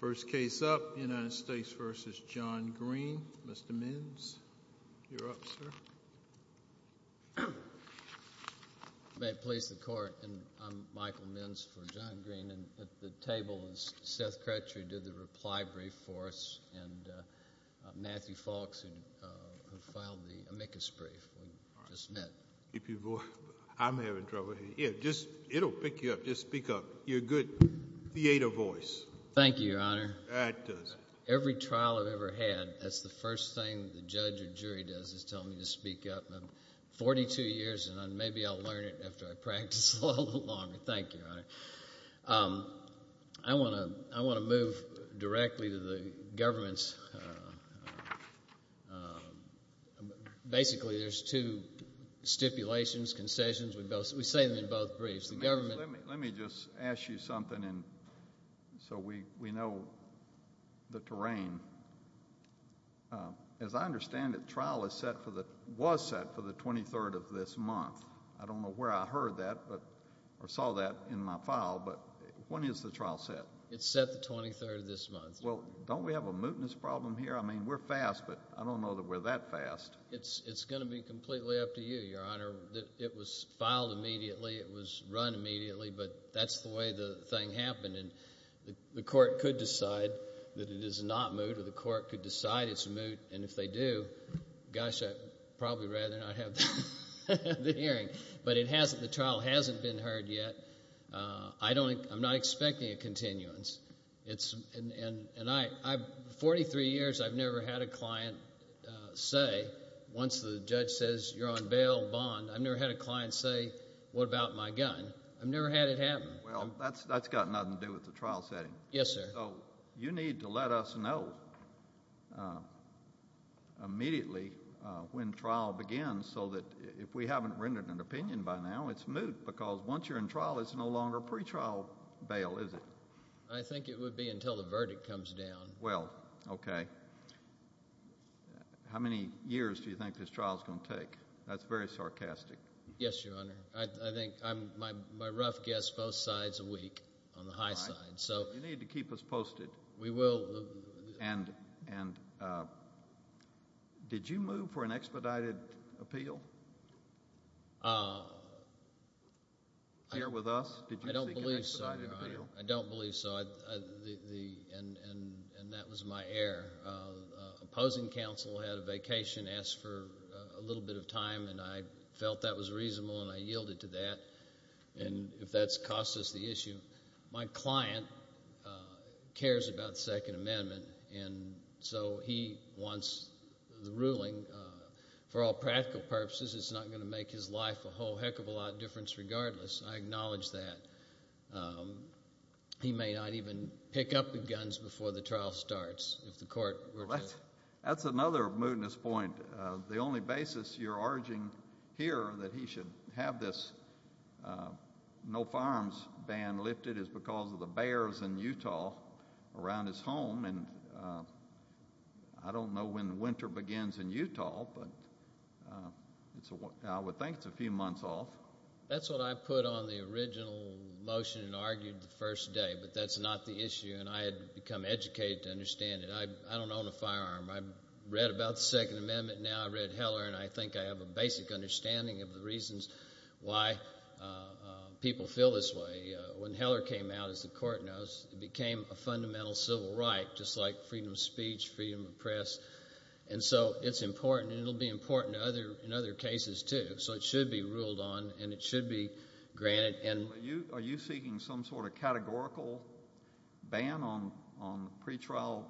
First case up, United States v. John Green. Mr. Minns, you're up, sir. May it please the Court, I'm Michael Minns for John Green. At the table is Seth Crutcher, who did the reply brief for us, and Matthew Falks, who filed the amicus brief we just met. I'm having trouble here. It'll pick you up, just speak up. You're a good theater voice. Thank you, Your Honor. It does. Every trial I've ever had, that's the first thing the judge or jury does, is tell me to speak up. I'm 42 years, and maybe I'll learn it after I practice a little longer. Thank you, Your Honor. I want to move directly to the government's, basically there's two stipulations, concessions, we say them in both briefs. Let me just ask you something so we know the terrain. As I understand it, trial was set for the 23rd of this month. I don't know where I heard that or saw that in my file, but when is the trial set? It's set the 23rd of this month. Well, don't we have a mootness problem here? I mean, we're fast, but I don't know that we're that fast. It's going to be completely up to you, Your Honor. It was filed immediately, it was run immediately, but that's the way the thing happened. The court could decide that it is not moot, or the court could decide it's moot, and if they do, gosh, I'd probably rather not have the hearing. But the trial hasn't been heard yet. I'm not expecting a continuance. 43 years, I've never had a client say, once the judge says, you're on bail, bond, I've never had a client say, what about my gun? I've never had it happen. Well, that's got nothing to do with the trial setting. Yes, sir. So you need to let us know immediately when trial begins so that if we haven't rendered an opinion by now, it's moot, because once you're in trial, it's no longer pretrial bail, is it? I think it would be until the verdict comes down. Well, okay. How many years do you think this trial is going to take? That's very sarcastic. Yes, Your Honor. I think my rough guess, both sides a week on the high side. All right. You need to keep us posted. We will. And did you move for an expedited appeal here with us? I don't believe so, Your Honor. I don't believe so, and that was my error. The opposing counsel had a vacation, asked for a little bit of time, and I felt that was reasonable, and I yielded to that. And if that's cost us the issue, my client cares about the Second Amendment, and so he wants the ruling. For all practical purposes, it's not going to make his life a whole heck of a lot of difference regardless. I acknowledge that. He may not even pick up the guns before the trial starts if the court were to— That's another mootness point. The only basis you're urging here that he should have this no-farms ban lifted is because of the bears in Utah around his home, and I don't know when winter begins in Utah, but I would think it's a few months off. That's what I put on the original motion and argued the first day, but that's not the issue, and I had become educated to understand it. I don't own a firearm. I've read about the Second Amendment now. I've read Heller, and I think I have a basic understanding of the reasons why people feel this way. When Heller came out, as the court knows, it became a fundamental civil right, just like freedom of speech, freedom of press, and so it's important, and it will be important in other cases too, so it should be ruled on, and it should be granted. Are you seeking some sort of categorical ban on pretrial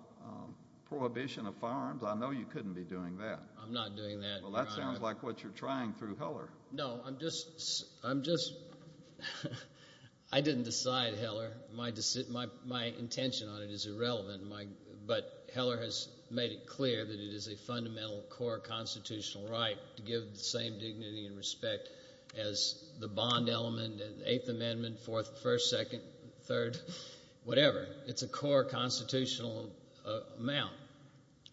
prohibition of firearms? I know you couldn't be doing that. I'm not doing that. Well, that sounds like what you're trying through Heller. No, I'm just—I didn't decide Heller. My intention on it is irrelevant, but Heller has made it clear that it is a fundamental core constitutional right to give the same dignity and respect as the bond element, the Eighth Amendment, Fourth, First, Second, Third, whatever. It's a core constitutional amount,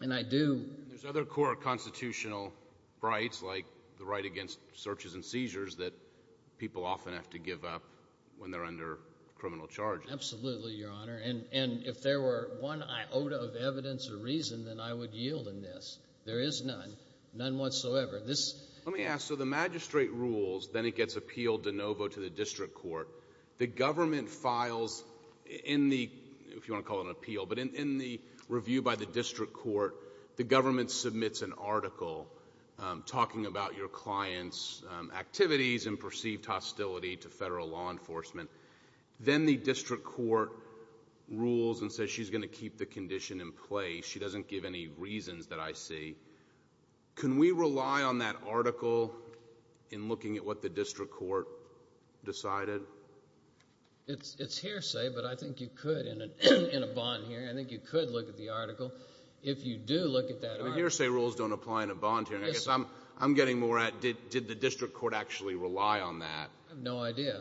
and I do— There's other core constitutional rights, like the right against searches and seizures, that people often have to give up when they're under criminal charges. Absolutely, Your Honor, and if there were one iota of evidence or reason, then I would yield in this. There is none, none whatsoever. Let me ask, so the magistrate rules, then it gets appealed de novo to the district court. The government files in the—if you want to call it an appeal, but in the review by the district court, the government submits an article talking about your client's activities and perceived hostility to federal law enforcement. Then the district court rules and says she's going to keep the condition in place. She doesn't give any reasons that I see. Can we rely on that article in looking at what the district court decided? It's hearsay, but I think you could in a bond hearing. I think you could look at the article. If you do look at that article— I mean, hearsay rules don't apply in a bond hearing. I guess I'm getting more at did the district court actually rely on that. I have no idea.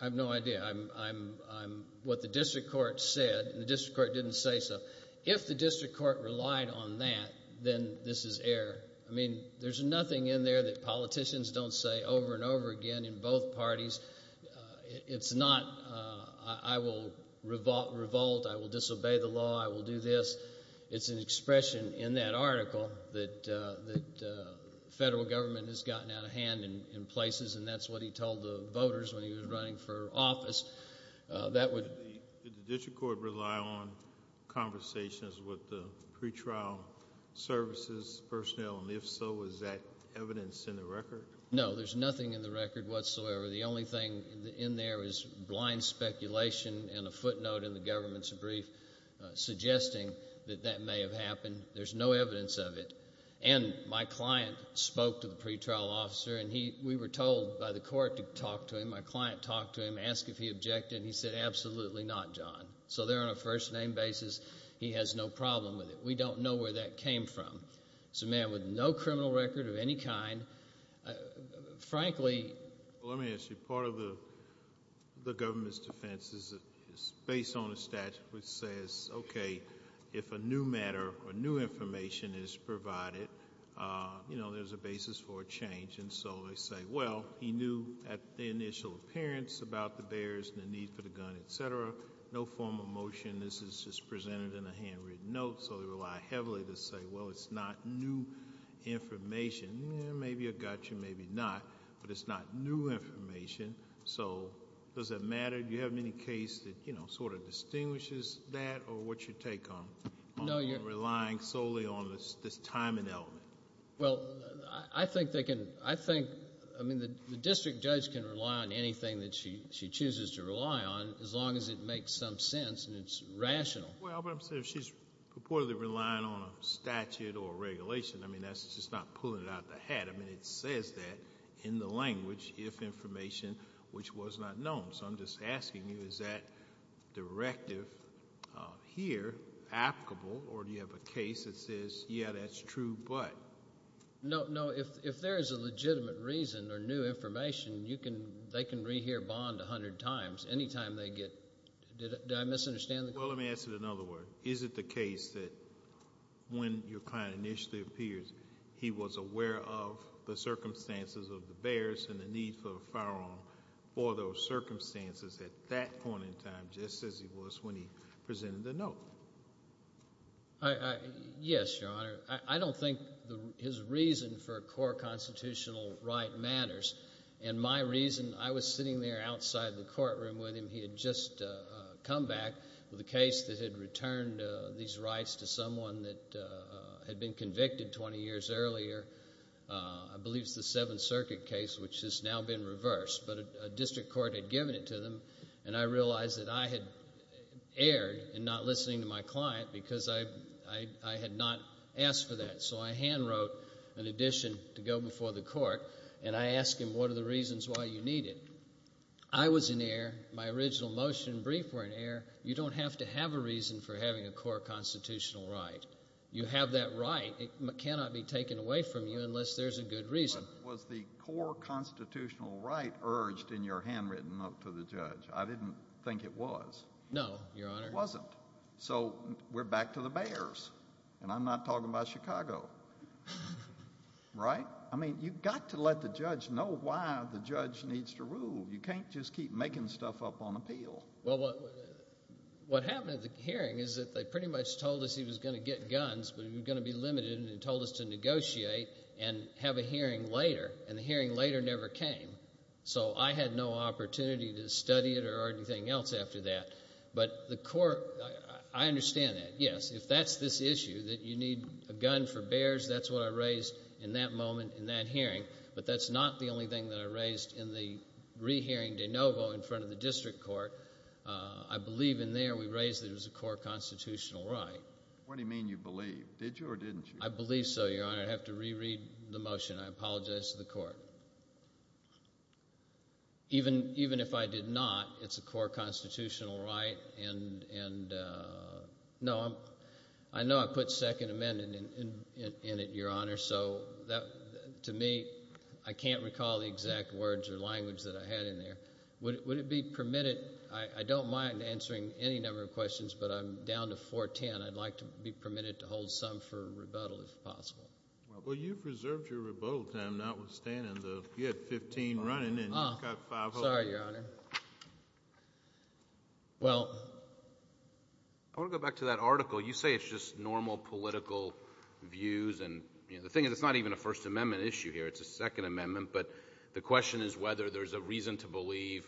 I have no idea. I'm—what the district court said, and the district court didn't say so. If the district court relied on that, then this is error. I mean, there's nothing in there that politicians don't say over and over again in both parties. It's not I will revolt, I will disobey the law, I will do this. It's an expression in that article that federal government has gotten out of hand in places, and that's what he told the voters when he was running for office. That would— Did the district court rely on conversations with the pretrial services personnel? And if so, is that evidence in the record? No, there's nothing in the record whatsoever. The only thing in there is blind speculation and a footnote in the government's brief suggesting that that may have happened. There's no evidence of it. And my client spoke to the pretrial officer, and we were told by the court to talk to him. My client talked to him, asked if he objected, and he said, absolutely not, John. So there on a first-name basis, he has no problem with it. We don't know where that came from. He's a man with no criminal record of any kind. Frankly— Well, let me ask you. Part of the government's defense is based on a statute which says, okay, if a new matter or new information is provided, you know, there's a basis for a change. And so they say, well, he knew at the initial appearance about the barriers and the need for the gun, et cetera. No formal motion. This is just presented in a handwritten note, so they rely heavily to say, well, it's not new information. Maybe you got you, maybe not, but it's not new information. So does it matter? Do you have any case that, you know, sort of distinguishes that or what's your take on relying solely on this time and element? Well, I think they can—I think—I mean, the district judge can rely on anything that she chooses to rely on as long as it makes some sense and it's rational. Well, but I'm saying if she's purportedly relying on a statute or a regulation, I mean, that's just not pulling it out of the hat. I mean, it says that in the language, if information which was not known. So I'm just asking you, is that directive here applicable or do you have a case that says, yeah, that's true, but? No, no. If there is a legitimate reason or new information, you can—they can rehear bond 100 times. Any time they get—did I misunderstand the question? Well, let me ask it another way. Is it the case that when your client initially appears, he was aware of the circumstances of the bears and the need for a firearm for those circumstances at that point in time just as he was when he presented the note? Yes, Your Honor. I don't think his reason for a court constitutional right matters. And my reason—I was sitting there outside the courtroom with him. He had just come back with a case that had returned these rights to someone that had been convicted 20 years earlier. I believe it's the Seventh Circuit case, which has now been reversed. But a district court had given it to them, and I realized that I had erred in not listening to my client because I had not asked for that. So I handwrote an addition to go before the court, and I asked him, what are the reasons why you need it? I was in error. My original motion and brief were in error. You don't have to have a reason for having a court constitutional right. You have that right. It cannot be taken away from you unless there's a good reason. But was the court constitutional right urged in your handwritten note to the judge? I didn't think it was. No, Your Honor. It wasn't. So we're back to the bears, and I'm not talking about Chicago. Right? I mean you've got to let the judge know why the judge needs to rule. You can't just keep making stuff up on appeal. Well, what happened at the hearing is that they pretty much told us he was going to get guns, but he was going to be limited, and they told us to negotiate and have a hearing later, and the hearing later never came. So I had no opportunity to study it or anything else after that. But the court, I understand that, yes. If that's this issue, that you need a gun for bears, that's what I raised in that moment in that hearing. But that's not the only thing that I raised in the rehearing de novo in front of the district court. I believe in there we raised that it was a court constitutional right. What do you mean you believe? Did you or didn't you? I believe so, Your Honor. I'd have to reread the motion. I apologize to the court. Even if I did not, it's a court constitutional right, and no, I know I put second amendment in it, Your Honor. So to me, I can't recall the exact words or language that I had in there. Would it be permitted? I don't mind answering any number of questions, but I'm down to 410. I'd like to be permitted to hold some for rebuttal if possible. Well, you've reserved your rebuttal time notwithstanding. You had 15 running, and you've got five holding. Sorry, Your Honor. Well, I want to go back to that article. You say it's just normal political views, and the thing is it's not even a First Amendment issue here. It's a Second Amendment. But the question is whether there's a reason to believe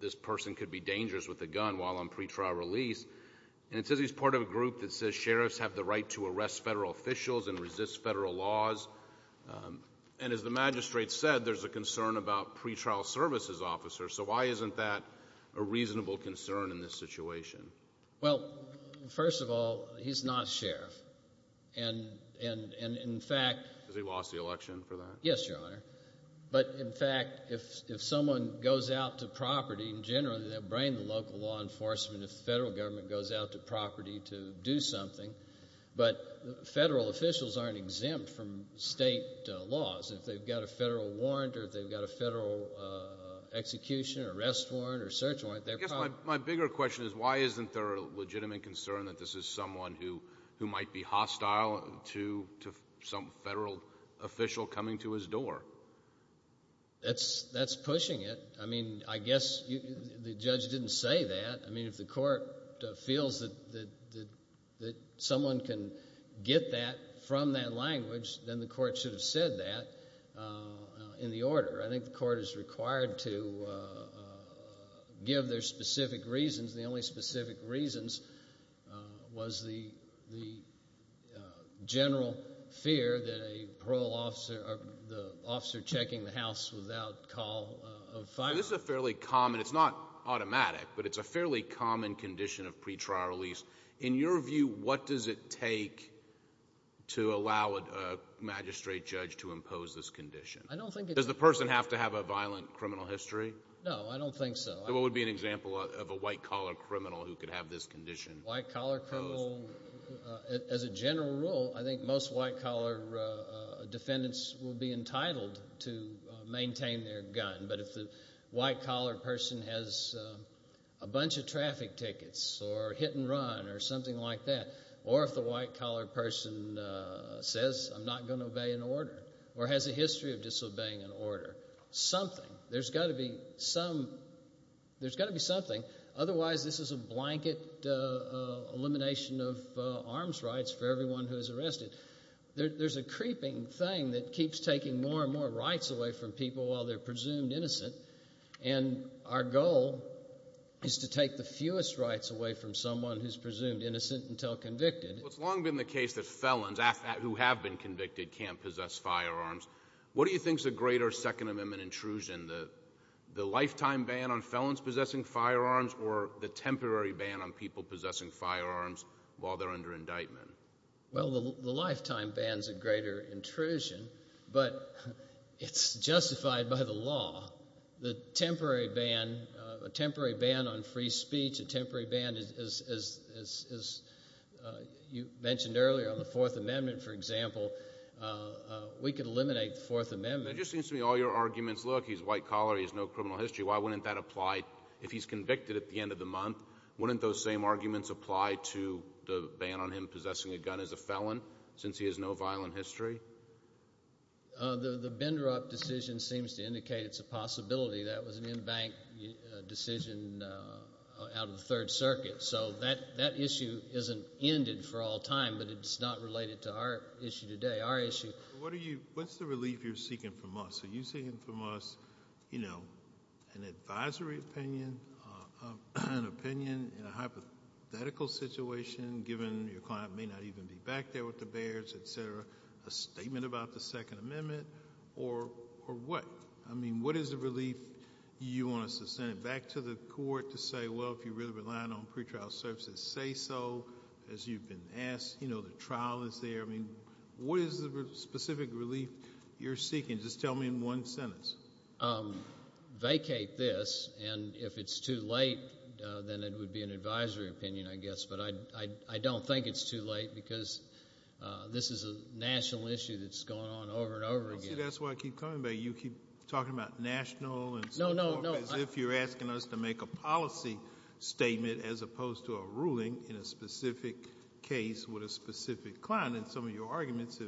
this person could be dangerous with a gun while on pretrial release. And it says he's part of a group that says sheriffs have the right to arrest federal officials and resist federal laws. And as the magistrate said, there's a concern about pretrial services officers. So why isn't that a reasonable concern in this situation? Well, first of all, he's not a sheriff, and in fact— Because he lost the election for that. Yes, Your Honor. But, in fact, if someone goes out to property, in general, they'll bring the local law enforcement. If the federal government goes out to property to do something. But federal officials aren't exempt from state laws. If they've got a federal warrant or if they've got a federal execution or arrest warrant or search warrant, they're probably— That's pushing it. I mean, I guess the judge didn't say that. I mean, if the court feels that someone can get that from that language, then the court should have said that in the order. I think the court is required to give their specific reasons. The only specific reasons was the general fear that a parole officer—the officer checking the house without call of fire. This is a fairly common—it's not automatic, but it's a fairly common condition of pretrial release. In your view, what does it take to allow a magistrate judge to impose this condition? I don't think it— Does the person have to have a violent criminal history? No, I don't think so. So what would be an example of a white-collar criminal who could have this condition imposed? White-collar criminal—as a general rule, I think most white-collar defendants will be entitled to maintain their gun. But if the white-collar person has a bunch of traffic tickets or hit and run or something like that, or if the white-collar person says, I'm not going to obey an order or has a history of disobeying an order, something— there's got to be some—there's got to be something. Otherwise, this is a blanket elimination of arms rights for everyone who is arrested. There's a creeping thing that keeps taking more and more rights away from people while they're presumed innocent. And our goal is to take the fewest rights away from someone who's presumed innocent until convicted. Well, it's long been the case that felons who have been convicted can't possess firearms. What do you think is a greater Second Amendment intrusion, the lifetime ban on felons possessing firearms or the temporary ban on people possessing firearms while they're under indictment? Well, the lifetime ban is a greater intrusion, but it's justified by the law. The temporary ban—a temporary ban on free speech, a temporary ban, as you mentioned earlier on the Fourth Amendment, for example, we could eliminate the Fourth Amendment. It just seems to me all your arguments, look, he's a white-collar, he has no criminal history. Why wouldn't that apply if he's convicted at the end of the month? Wouldn't those same arguments apply to the ban on him possessing a gun as a felon since he has no violent history? The Bindrup decision seems to indicate it's a possibility. That was an in-bank decision out of the Third Circuit. So that issue isn't ended for all time, but it's not related to our issue today. Our issue— What are you—what's the relief you're seeking from us? Are you seeking from us an advisory opinion, an opinion in a hypothetical situation, given your client may not even be back there with the Bears, et cetera, a statement about the Second Amendment, or what? I mean, what is the relief you want us to send it back to the court to say, well, if you're really relying on pretrial services, say so. As you've been asked, you know, the trial is there. I mean, what is the specific relief you're seeking? Just tell me in one sentence. Vacate this, and if it's too late, then it would be an advisory opinion, I guess, but I don't think it's too late because this is a national issue that's going on over and over again. See, that's what I keep talking about. You keep talking about national and so forth as if you're asking us to make a policy statement as opposed to a ruling in a specific case with a specific client, and some of your arguments,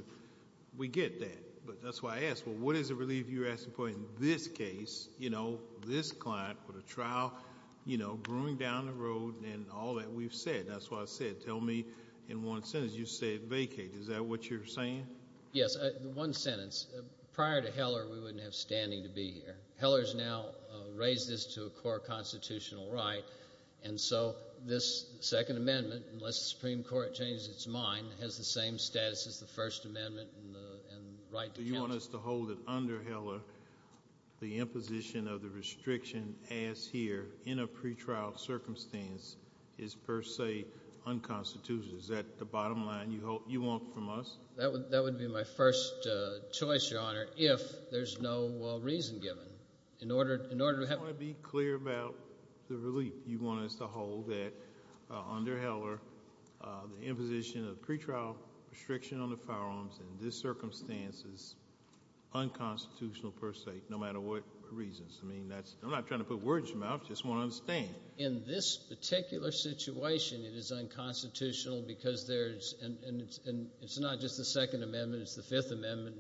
we get that. But that's why I ask, well, what is the relief you're asking for in this case, you know, this client with a trial, you know, brewing down the road and all that we've said? That's why I said tell me in one sentence. You said vacate. Is that what you're saying? Yes. One sentence. Prior to Heller, we wouldn't have standing to be here. Heller has now raised this to a core constitutional right, and so this Second Amendment, unless the Supreme Court changes its mind, has the same status as the First Amendment and the right to counsel. So you want us to hold it under Heller the imposition of the restriction as here in a pretrial circumstance is per se unconstitutional. Is that the bottom line you want from us? That would be my first choice, Your Honor, if there's no reason given. You want to be clear about the relief you want us to hold that under Heller, the imposition of pretrial restriction on the firearms in this circumstance is unconstitutional per se, no matter what reasons. I mean, I'm not trying to put words in your mouth. I just want to understand. In this particular situation, it is unconstitutional because there's – and it's not just the Second Amendment. It's the Fifth Amendment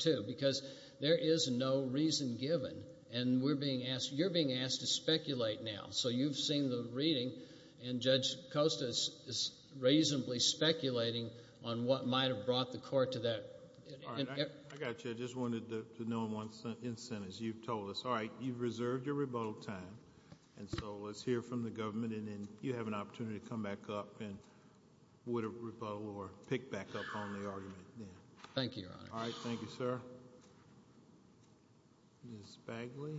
too because there is no reason given, and we're being asked – you're being asked to speculate now. So you've seen the reading, and Judge Costa is reasonably speculating on what might have brought the court to that. All right. I got you. I just wanted to know in one sentence. You've told us. All right. You've reserved your rebuttal time, and so let's hear from the government, and then you have an opportunity to come back up with a rebuttal or pick back up on the argument then. Thank you, Your Honor. All right. Thank you, sir. Ms. Bagley.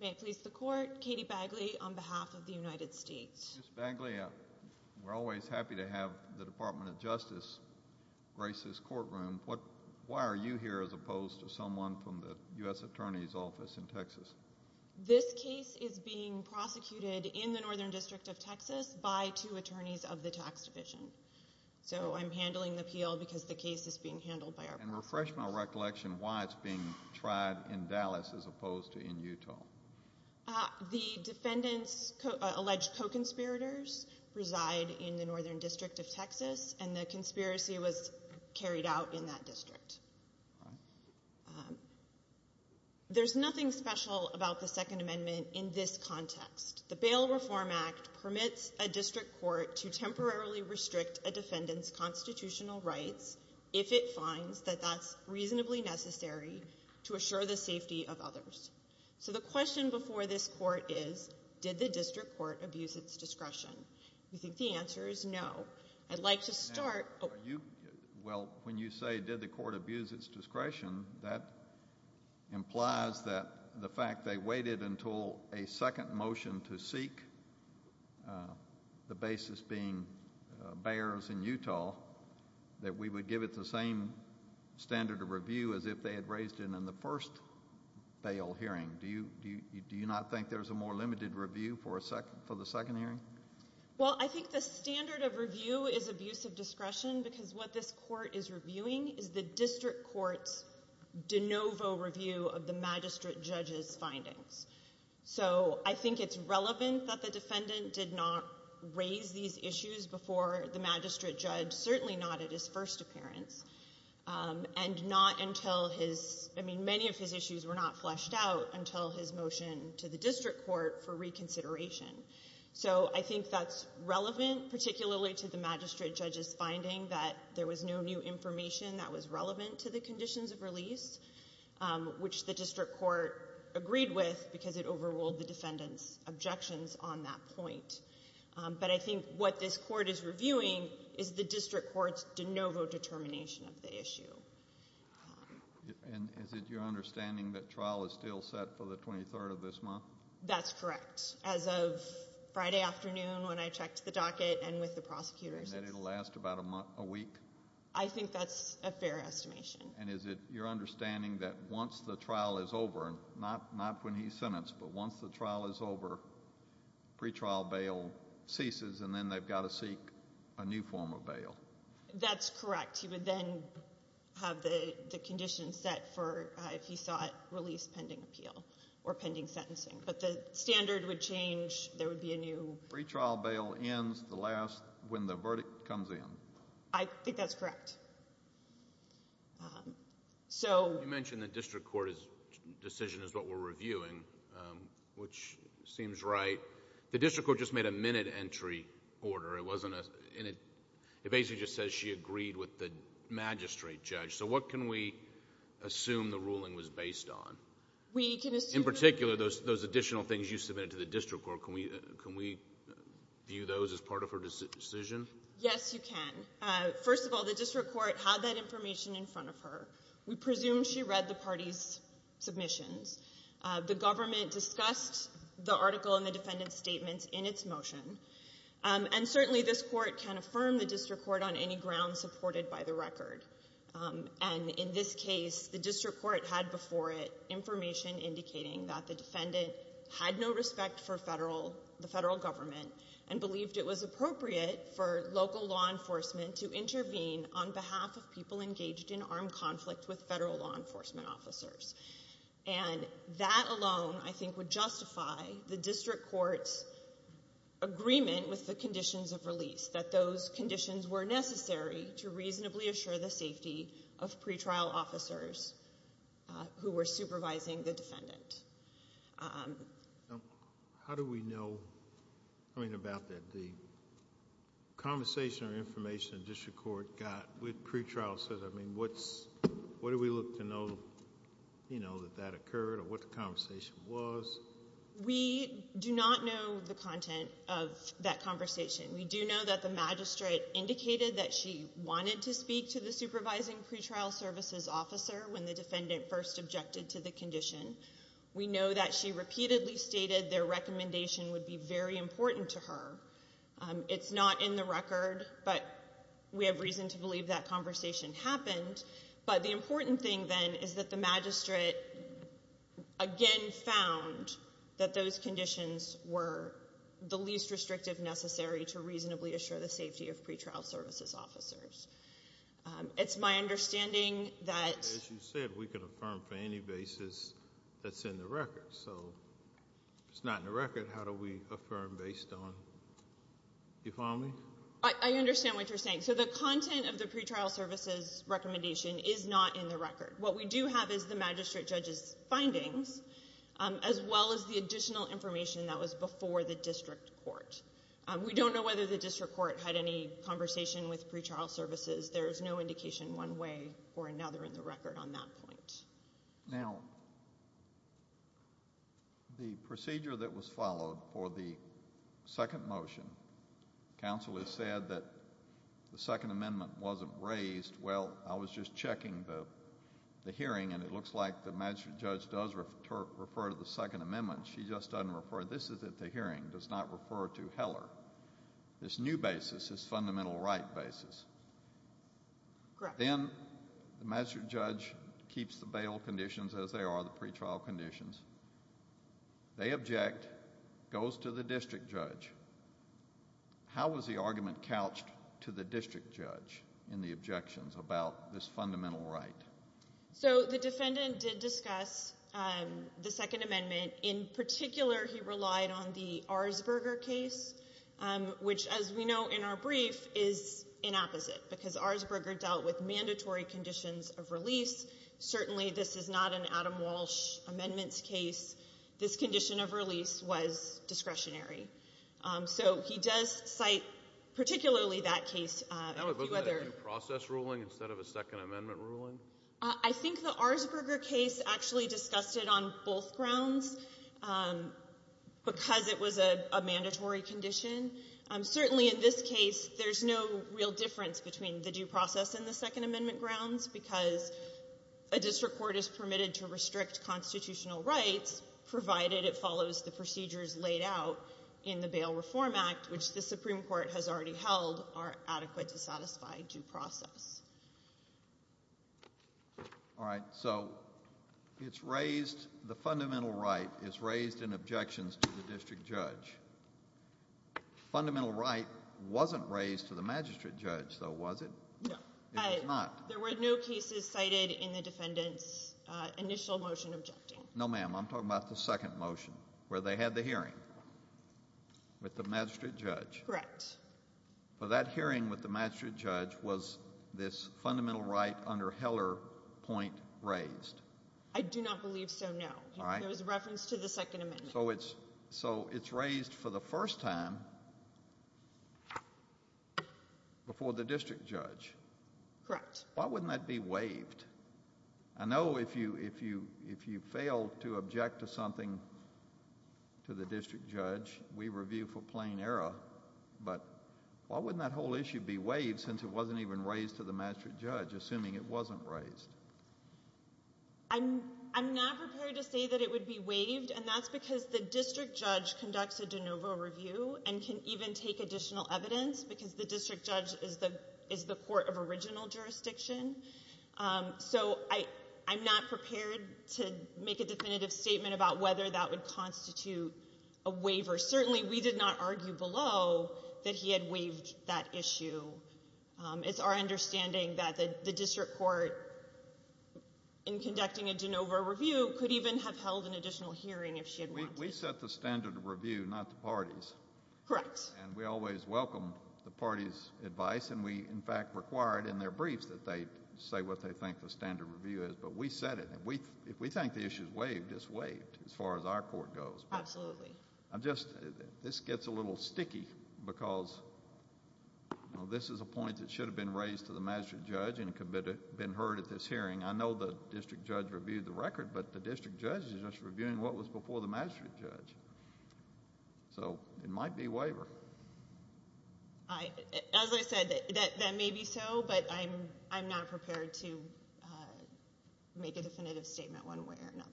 May it please the Court, Katie Bagley on behalf of the United States. Ms. Bagley, we're always happy to have the Department of Justice grace this courtroom. Why are you here as opposed to someone from the U.S. Attorney's Office in Texas? This case is being prosecuted in the Northern District of Texas by two attorneys of the tax division. So I'm handling the appeal because the case is being handled by our – And refresh my recollection why it's being tried in Dallas as opposed to in Utah. The defendant's alleged co-conspirators reside in the Northern District of Texas, and the conspiracy was carried out in that district. There's nothing special about the Second Amendment in this context. The Bail Reform Act permits a district court to temporarily restrict a defendant's constitutional rights if it finds that that's reasonably necessary to assure the safety of others. So the question before this court is, did the district court abuse its discretion? We think the answer is no. I'd like to start – Well, when you say, did the court abuse its discretion, that implies that the fact they waited until a second motion to seek, the basis being Bayer's in Utah, that we would give it the same standard of review as if they had raised it in the first bail hearing. Do you not think there's a more limited review for the second hearing? Well, I think the standard of review is abuse of discretion because what this court is reviewing is the district court's de novo review of the magistrate judge's findings. So I think it's relevant that the defendant did not raise these issues before the magistrate judge, certainly not at his first appearance, and not until his – I mean, many of his issues were not fleshed out until his motion to the district court for reconsideration. So I think that's relevant, particularly to the magistrate judge's finding that there was no new information that was relevant to the conditions of release, which the district court agreed with because it overruled the defendant's objections on that point. But I think what this court is reviewing is the district court's de novo determination of the issue. And is it your understanding that trial is still set for the 23rd of this month? That's correct, as of Friday afternoon when I checked the docket and with the prosecutors. And that it will last about a week? I think that's a fair estimation. And is it your understanding that once the trial is over, not when he's sentenced, but once the trial is over, pretrial bail ceases, and then they've got to seek a new form of bail? That's correct. He would then have the conditions set for if he sought release pending appeal or pending sentencing. But the standard would change. There would be a new – Pretrial bail ends the last – when the verdict comes in. I think that's correct. You mentioned the district court's decision is what we're reviewing, which seems right. The district court just made a minute entry order. It basically just says she agreed with the magistrate judge. So what can we assume the ruling was based on? In particular, those additional things you submitted to the district court, can we view those as part of her decision? Yes, you can. First of all, the district court had that information in front of her. We presume she read the party's submissions. The government discussed the article in the defendant's statements in its motion. And certainly this court can affirm the district court on any grounds supported by the record. And in this case, the district court had before it information indicating that the defendant had no respect for the federal government and believed it was appropriate for local law enforcement to intervene on behalf of people engaged in armed conflict with federal law enforcement officers. And that alone, I think, would justify the district court's agreement with the conditions of release, that those conditions were necessary to reasonably assure the safety of pretrial officers who were supervising the defendant. How do we know about the conversation or information the district court got with pretrial services? I mean, what do we look to know that that occurred or what the conversation was? We do not know the content of that conversation. We do know that the magistrate indicated that she wanted to speak to the supervising pretrial services officer when the defendant first objected to the condition. We know that she repeatedly stated their recommendation would be very important to her. It's not in the record, but we have reason to believe that conversation happened. But the important thing, then, is that the magistrate again found that those conditions were the least restrictive necessary to reasonably assure the safety of pretrial services officers. It's my understanding that- As you said, we can affirm for any basis that's in the record. So if it's not in the record, how do we affirm based on- you follow me? I understand what you're saying. So the content of the pretrial services recommendation is not in the record. What we do have is the magistrate judge's findings, as well as the additional information that was before the district court. We don't know whether the district court had any conversation with pretrial services. There is no indication one way or another in the record on that point. Now, the procedure that was followed for the second motion, counsel has said that the Second Amendment wasn't raised. Well, I was just checking the hearing, and it looks like the magistrate judge does refer to the Second Amendment. She just doesn't refer- this is at the hearing, does not refer to Heller. This new basis is fundamental right basis. Correct. Then the magistrate judge keeps the bail conditions as they are, the pretrial conditions. They object, goes to the district judge. How was the argument couched to the district judge in the objections about this fundamental right? So the defendant did discuss the Second Amendment. In particular, he relied on the Arsberger case, which, as we know in our brief, is an opposite, because Arsberger dealt with mandatory conditions of release. Certainly, this is not an Adam Walsh amendments case. This condition of release was discretionary. So he does cite particularly that case. Wasn't that a due process ruling instead of a Second Amendment ruling? I think the Arsberger case actually discussed it on both grounds because it was a mandatory condition. Certainly, in this case, there's no real difference between the due process and the Second Amendment grounds because a district court is permitted to restrict constitutional rights, provided it follows the procedures laid out in the Bail Reform Act, which the Supreme Court has already held are adequate to satisfy due process. All right. So it's raised the fundamental right is raised in objections to the district judge. Fundamental right wasn't raised to the magistrate judge, though, was it? No. It was not. There were no cases cited in the defendant's initial motion objecting. No, ma'am. I'm talking about the second motion where they had the hearing with the magistrate judge. Correct. But that hearing with the magistrate judge was this fundamental right under Heller point raised. I do not believe so, no. All right. It was a reference to the Second Amendment. So it's raised for the first time before the district judge. Correct. Why wouldn't that be waived? I know if you fail to object to something to the district judge, we review for plain error. But why wouldn't that whole issue be waived since it wasn't even raised to the magistrate judge, assuming it wasn't raised? I'm not prepared to say that it would be waived, and that's because the district judge conducts a de novo review and can even take additional evidence because the district judge is the court of original jurisdiction. So I'm not prepared to make a definitive statement about whether that would constitute a waiver. Certainly we did not argue below that he had waived that issue. It's our understanding that the district court, in conducting a de novo review, could even have held an additional hearing if she had wanted to. We set the standard of review, not the parties. Correct. And we always welcome the parties' advice, and we, in fact, require it in their briefs that they say what they think the standard review is. But we set it. If we think the issue is waived, it's waived as far as our court goes. Absolutely. This gets a little sticky because this is a point that should have been raised to the magistrate judge and could have been heard at this hearing. I know the district judge reviewed the record, but the district judge is just reviewing what was before the magistrate judge. So it might be a waiver. As I said, that may be so, but I'm not prepared to make a definitive statement one way or another.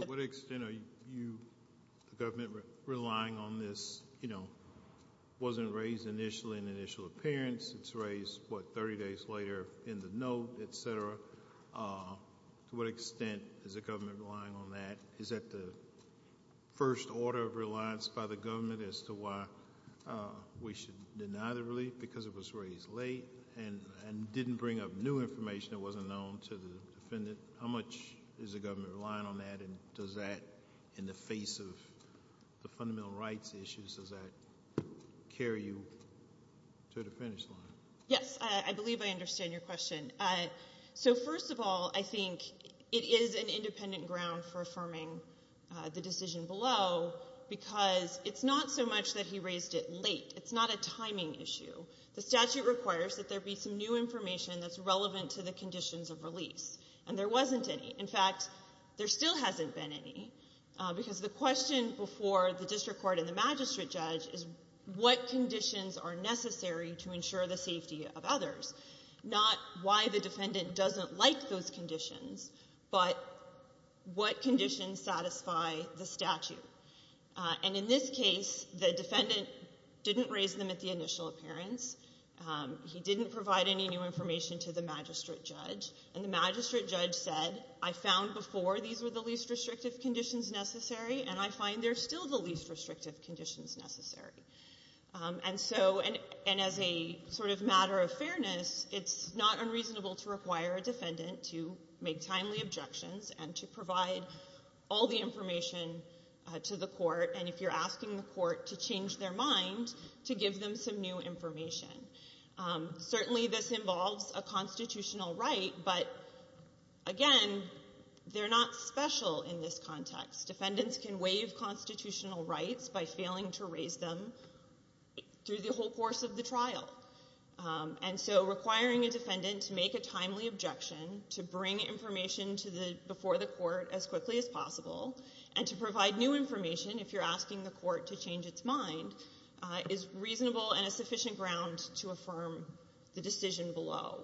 To what extent are you, the government, relying on this? It wasn't raised initially in the initial appearance. It's raised, what, 30 days later in the note, et cetera. To what extent is the government relying on that? Is that the first order of reliance by the government as to why we should deny the relief because it was raised late and didn't bring up new information that wasn't known to the defendant? How much is the government relying on that, and does that in the face of the fundamental rights issues, does that carry you to the finish line? Yes, I believe I understand your question. So first of all, I think it is an independent ground for affirming the decision below because it's not so much that he raised it late. It's not a timing issue. The statute requires that there be some new information that's relevant to the conditions of release, and there wasn't any. In fact, there still hasn't been any because the question before the district court and the magistrate judge is what conditions are necessary to ensure the safety of others, not why the defendant doesn't like those conditions, but what conditions satisfy the statute. And in this case, the defendant didn't raise them at the initial appearance. He didn't provide any new information to the magistrate judge, and the magistrate judge said, I found before these were the least restrictive conditions necessary, and I find they're still the least restrictive conditions necessary. And as a sort of matter of fairness, it's not unreasonable to require a defendant to make timely objections and to provide all the information to the court, and if you're asking the court to change their mind, to give them some new information. Certainly this involves a constitutional right, but again, they're not special in this context. Defendants can waive constitutional rights by failing to raise them through the whole course of the trial, and so requiring a defendant to make a timely objection to bring information before the court as quickly as possible and to provide new information if you're asking the court to change its mind is reasonable and a sufficient ground to affirm the decision below.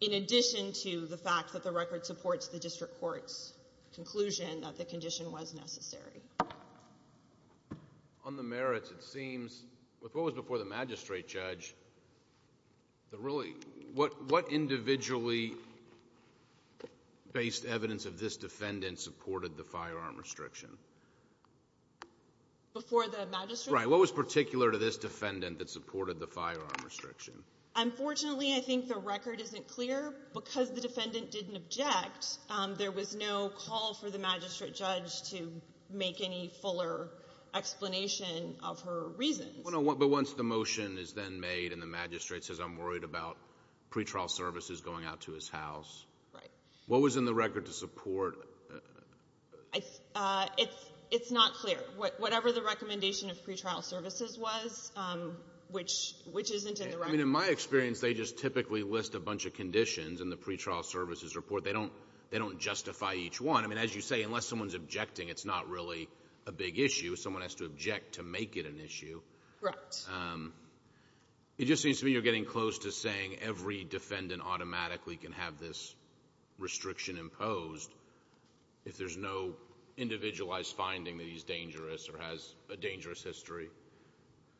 In addition to the fact that the record supports the district court's conclusion that the condition was necessary. On the merits, it seems, with what was before the magistrate judge, what individually-based evidence of this defendant supported the firearm restriction? Before the magistrate? Right. What was particular to this defendant that supported the firearm restriction? Unfortunately, I think the record isn't clear. Because the defendant didn't object, there was no call for the magistrate judge to make any fuller explanation of her reasons. But once the motion is then made and the magistrate says, I'm worried about pretrial services going out to his house, what was in the record to support? It's not clear. Whatever the recommendation of pretrial services was, which isn't in the record. I mean, in my experience, they just typically list a bunch of conditions in the pretrial services report. They don't justify each one. I mean, as you say, unless someone's objecting, it's not really a big issue. Someone has to object to make it an issue. Correct. It just seems to me you're getting close to saying every defendant automatically can have this restriction imposed if there's no individualized finding that he's dangerous or has a dangerous history.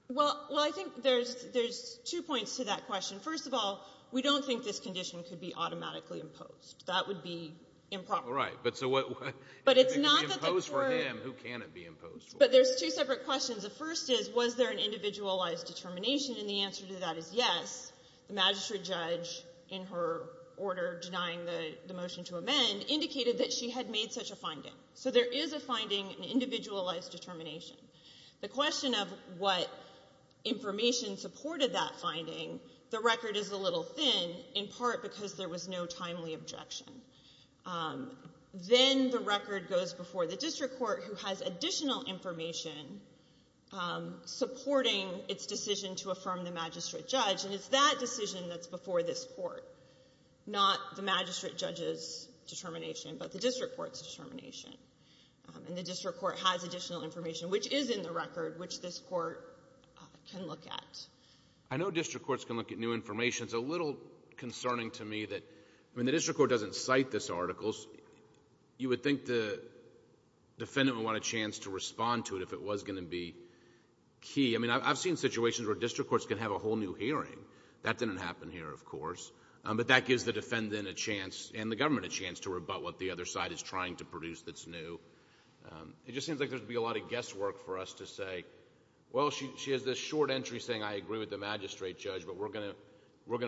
Well, I think there's two points to that question. First of all, we don't think this condition could be automatically imposed. That would be improper. Right. But it's not that the court ---- If it can be imposed for him, who can it be imposed for? But there's two separate questions. The first is, was there an individualized determination? And the answer to that is yes. The magistrate judge, in her order denying the motion to amend, indicated that she had made such a finding. So there is a finding, an individualized determination. The question of what information supported that finding, the record is a little thin, in part because there was no timely objection. Then the record goes before the district court, who has additional information supporting its decision to affirm the magistrate judge. And it's that decision that's before this court, not the magistrate judge's determination, but the district court's determination. And the district court has additional information, which is in the record, which this court can look at. I know district courts can look at new information. It's a little concerning to me that when the district court doesn't cite this article, you would think the defendant would want a chance to respond to it if it was going to be key. I mean, I've seen situations where district courts can have a whole new hearing. That didn't happen here, of course. But that gives the defendant a chance and the government a chance to rebut what the other side is trying to produce that's new. It just seems like there would be a lot of guesswork for us to say, well, she has this short entry saying, I agree with the magistrate judge, but we're going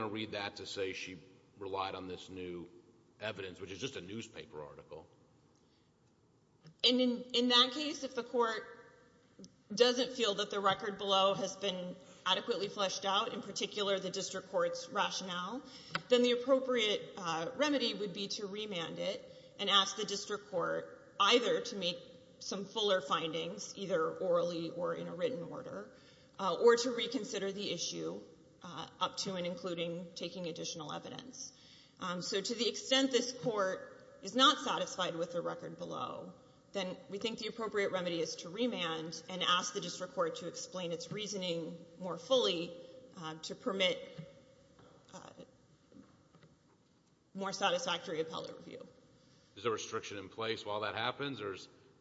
to read that to say she relied on this new evidence, which is just a newspaper article. And in that case, if the court doesn't feel that the record below has been adequately fleshed out, in particular the district court's rationale, then the appropriate remedy would be to remand it and ask the district court either to make some fuller findings, either orally or in a written order, or to reconsider the issue up to and including taking additional evidence. So to the extent this court is not satisfied with the record below, then we think the appropriate remedy is to remand and ask the district court to explain its reasoning more fully to permit more satisfactory appellate review. Is a restriction in place while that happens, or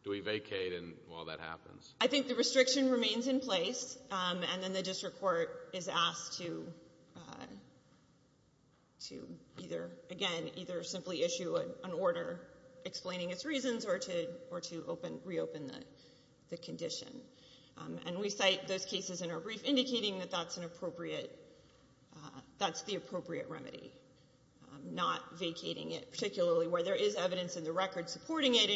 do we vacate while that happens? I think the restriction remains in place, and then the district court is asked to either, again, either simply issue an order explaining its reasons or to reopen the condition. And we cite those cases in our brief indicating that that's the appropriate remedy, not vacating it particularly where there is evidence in the record supporting it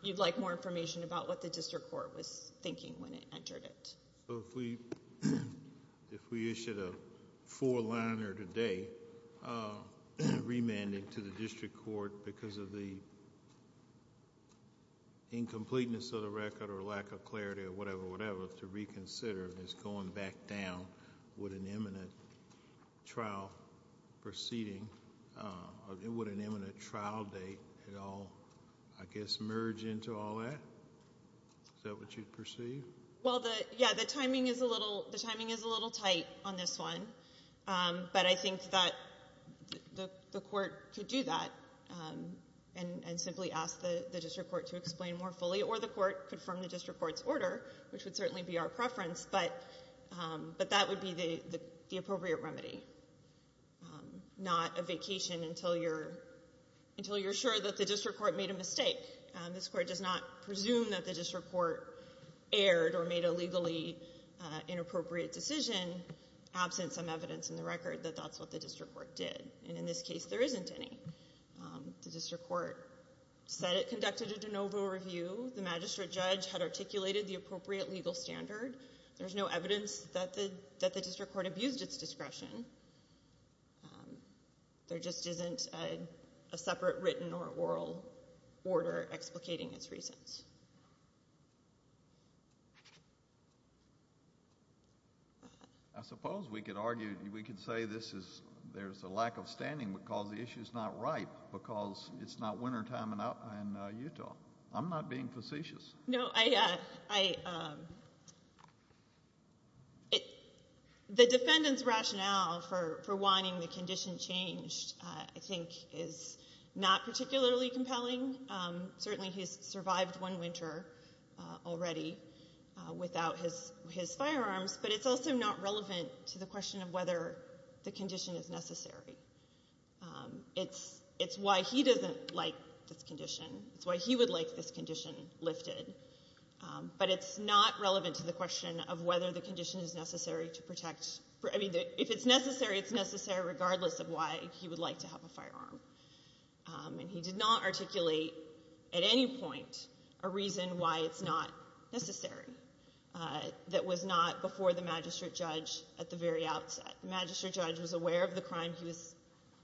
You'd like more information about what the district court was thinking when it entered it? If we issued a four-liner today, remanding to the district court because of the incompleteness of the record or lack of clarity or whatever, to reconsider this going back down with an imminent trial proceeding, would an imminent trial date at all, I guess, merge into all that? Is that what you perceive? Well, yeah, the timing is a little tight on this one, but I think that the court could do that and simply ask the district court to explain more fully or the court confirm the district court's order, which would certainly be our preference, but that would be the appropriate remedy, not a vacation until you're sure that the district court made a mistake. This court does not presume that the district court erred or made a legally inappropriate decision absent some evidence in the record that that's what the district court did. And in this case, there isn't any. The district court said it conducted a de novo review. The magistrate judge had articulated the appropriate legal standard. There's no evidence that the district court abused its discretion. There just isn't a separate written or oral order explicating its reasons. I suppose we could argue, we could say there's a lack of standing because the issue's not ripe, because it's not wintertime in Utah. I'm not being facetious. No, I, the defendant's rationale for wanting the condition changed, I think, is not particularly compelling. Certainly he's survived one winter already without his firearms, but it's also not relevant to the question of whether the condition is necessary. It's why he doesn't like this condition. It's why he would like this condition lifted. But it's not relevant to the question of whether the condition is necessary to protect. I mean, if it's necessary, it's necessary regardless of why he would like to have a firearm. And he did not articulate at any point a reason why it's not necessary. That was not before the magistrate judge at the very outset. The magistrate judge was aware of the crime he was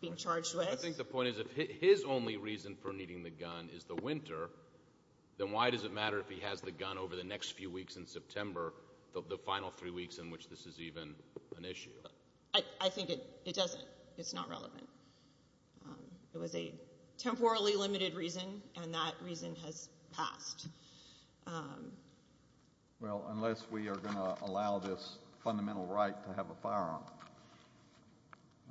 being charged with. I think the point is if his only reason for needing the gun is the winter, then why does it matter if he has the gun over the next few weeks in September, I think it doesn't. It's not relevant. It was a temporally limited reason, and that reason has passed. Well, unless we are going to allow this fundamental right to have a firearm.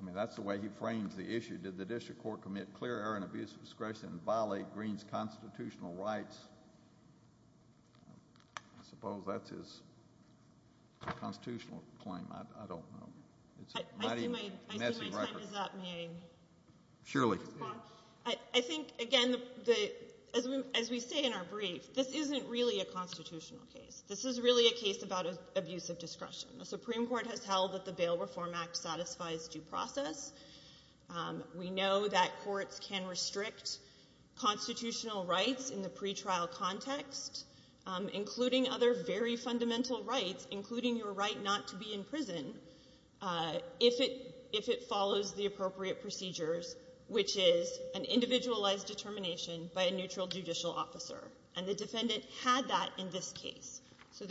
I mean, that's the way he frames the issue. Did the district court commit clear error and abuse of discretion and violate Greene's constitutional rights? I suppose that's his constitutional claim. I don't know. I think my time is up. May I? Surely. I think, again, as we say in our brief, this isn't really a constitutional case. This is really a case about abuse of discretion. The Supreme Court has held that the Bail Reform Act satisfies due process. We know that courts can restrict constitutional rights in the pretrial context, including other very fundamental rights, including your right not to be in prison, if it follows the appropriate procedures, which is an individualized determination by a neutral judicial officer. And the defendant had that in this case. So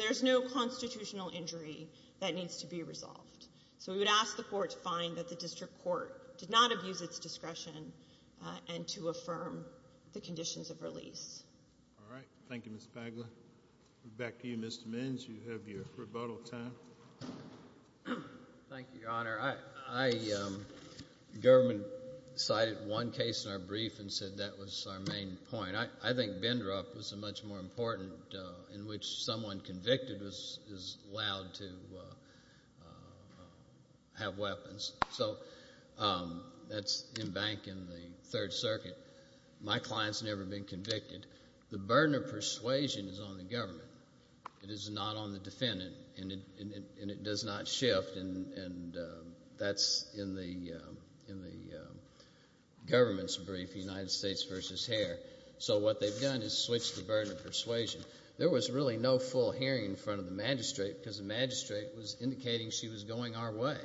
we would ask the court to find that the district court did not abuse its discretion and to affirm the conditions of release. All right. Thank you, Ms. Pagla. Back to you, Mr. Menz. You have your rebuttal time. Thank you, Your Honor. The government cited one case in our brief and said that was our main point. I think Bindrup was a much more important in which someone convicted is allowed to have weapons. So that's in bank in the Third Circuit. My client's never been convicted. The burden of persuasion is on the government. It is not on the defendant, and it does not shift, and that's in the government's brief, United States v. Hare. So what they've done is switched the burden of persuasion. There was really no full hearing in front of the magistrate because the magistrate was indicating she was going our way.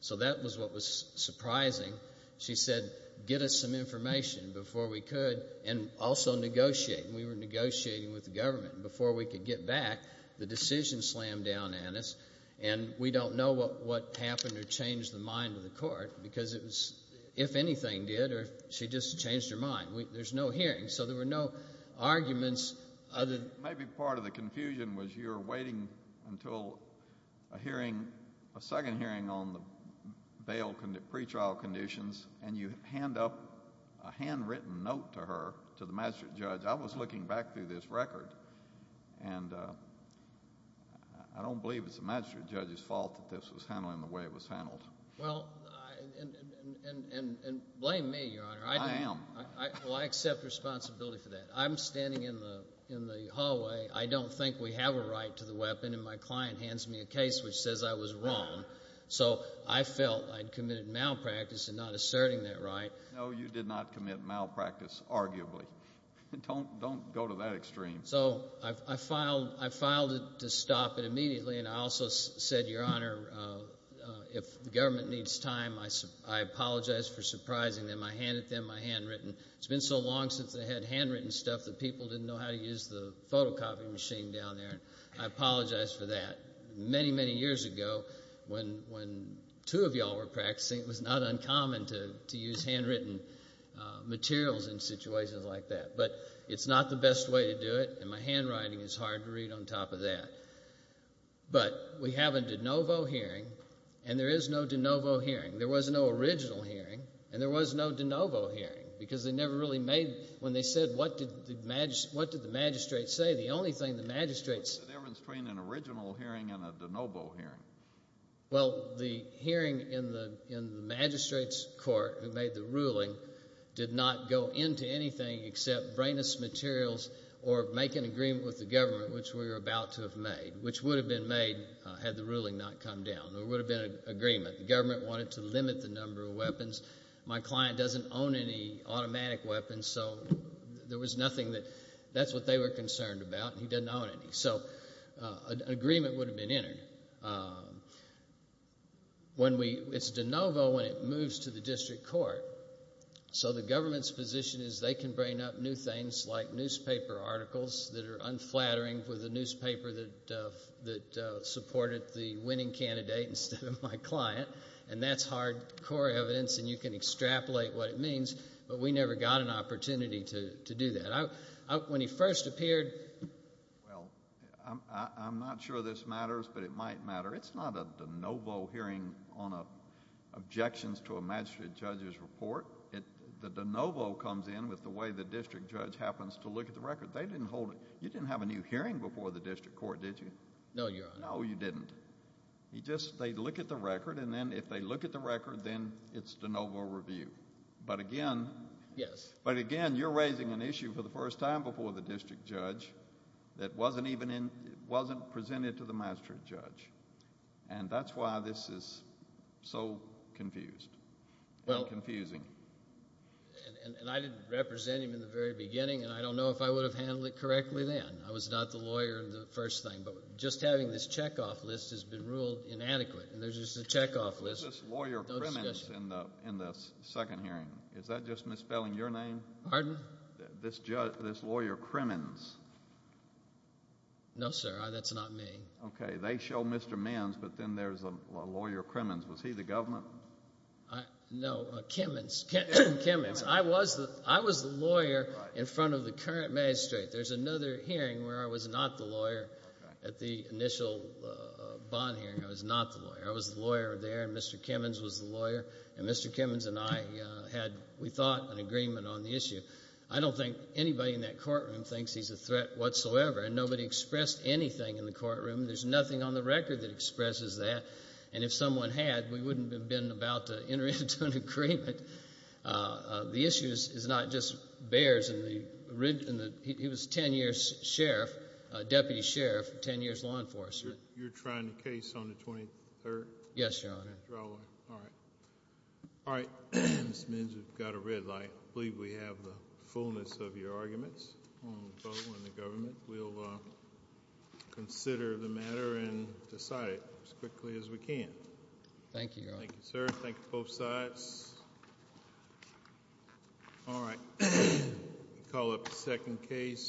So that was what was surprising. She said, get us some information before we could, and also negotiate. And we were negotiating with the government. Before we could get back, the decision slammed down on us, and we don't know what happened or changed the mind of the court because it was if anything did or if she just changed her mind. There's no hearing, so there were no arguments. Maybe part of the confusion was you're waiting until a hearing, a second hearing on the bail pretrial conditions, and you hand up a handwritten note to her, to the magistrate judge. I was looking back through this record, and I don't believe it's the magistrate judge's fault that this was handled in the way it was handled. Well, and blame me, Your Honor. I am. Well, I accept responsibility for that. I'm standing in the hallway. I don't think we have a right to the weapon, and my client hands me a case which says I was wrong. So I felt I'd committed malpractice in not asserting that right. No, you did not commit malpractice, arguably. Don't go to that extreme. So I filed it to stop it immediately, and I also said, Your Honor, if the government needs time, I apologize for surprising them. I handed them my handwritten. It's been so long since they had handwritten stuff that people didn't know how to use the photocopy machine down there. I apologize for that. Many, many years ago when two of you all were practicing, it was not uncommon to use handwritten materials in situations like that. But it's not the best way to do it, and my handwriting is hard to read on top of that. But we have a de novo hearing, and there is no de novo hearing. There was no original hearing, and there was no de novo hearing because they never really made, when they said what did the magistrate say, the only thing the magistrate said. What's the difference between an original hearing and a de novo hearing? Well, the hearing in the magistrate's court who made the ruling did not go into anything except brainless materials or make an agreement with the government, which we were about to have made, which would have been made had the ruling not come down. There would have been an agreement. The government wanted to limit the number of weapons. My client doesn't own any automatic weapons, so there was nothing that, that's what they were concerned about, and he doesn't own any. So an agreement would have been entered. It's de novo when it moves to the district court. So the government's position is they can bring up new things like newspaper articles that are unflattering for the newspaper that supported the winning candidate instead of my client, and that's hard core evidence, and you can extrapolate what it means, but we never got an opportunity to do that. When he first appeared, well, I'm not sure this matters, but it might matter. It's not a de novo hearing on objections to a magistrate judge's report. The de novo comes in with the way the district judge happens to look at the record. They didn't hold it. You didn't have a new hearing before the district court, did you? No, Your Honor. No, you didn't. You just, they look at the record, and then if they look at the record, then it's de novo review. But again... Yes. But again, you're raising an issue for the first time before the district judge that wasn't presented to the magistrate judge, and that's why this is so confused and confusing. And I didn't represent him in the very beginning, and I don't know if I would have handled it correctly then. I was not the lawyer in the first thing, but just having this checkoff list has been ruled inadequate, and there's just a checkoff list. There's this lawyer Crimmins in the second hearing. Is that just misspelling your name? Pardon? This lawyer Crimmins. No, sir, that's not me. Okay. They show Mr. Menz, but then there's a lawyer Crimmins. Was he the government? No, Cimmins. I was the lawyer in front of the current magistrate. There's another hearing where I was not the lawyer at the initial bond hearing. I was not the lawyer. I was the lawyer there, and Mr. Cimmins was the lawyer. And Mr. Cimmins and I had, we thought, an agreement on the issue. I don't think anybody in that courtroom thinks he's a threat whatsoever, and nobody expressed anything in the courtroom. There's nothing on the record that expresses that. And if someone had, we wouldn't have been about to enter into an agreement. The issue is not just bears. He was a 10-year sheriff, deputy sheriff, 10 years law enforcement. You're trying the case on the 23rd? Yes, Your Honor. All right. All right. Mr. Menz, you've got a red light. I believe we have the fullness of your arguments. I want to vote on the government. We'll consider the matter and decide it as quickly as we can. Thank you, Your Honor. Thank you, sir. Thank you, both sides. All right. We'll call up the second case.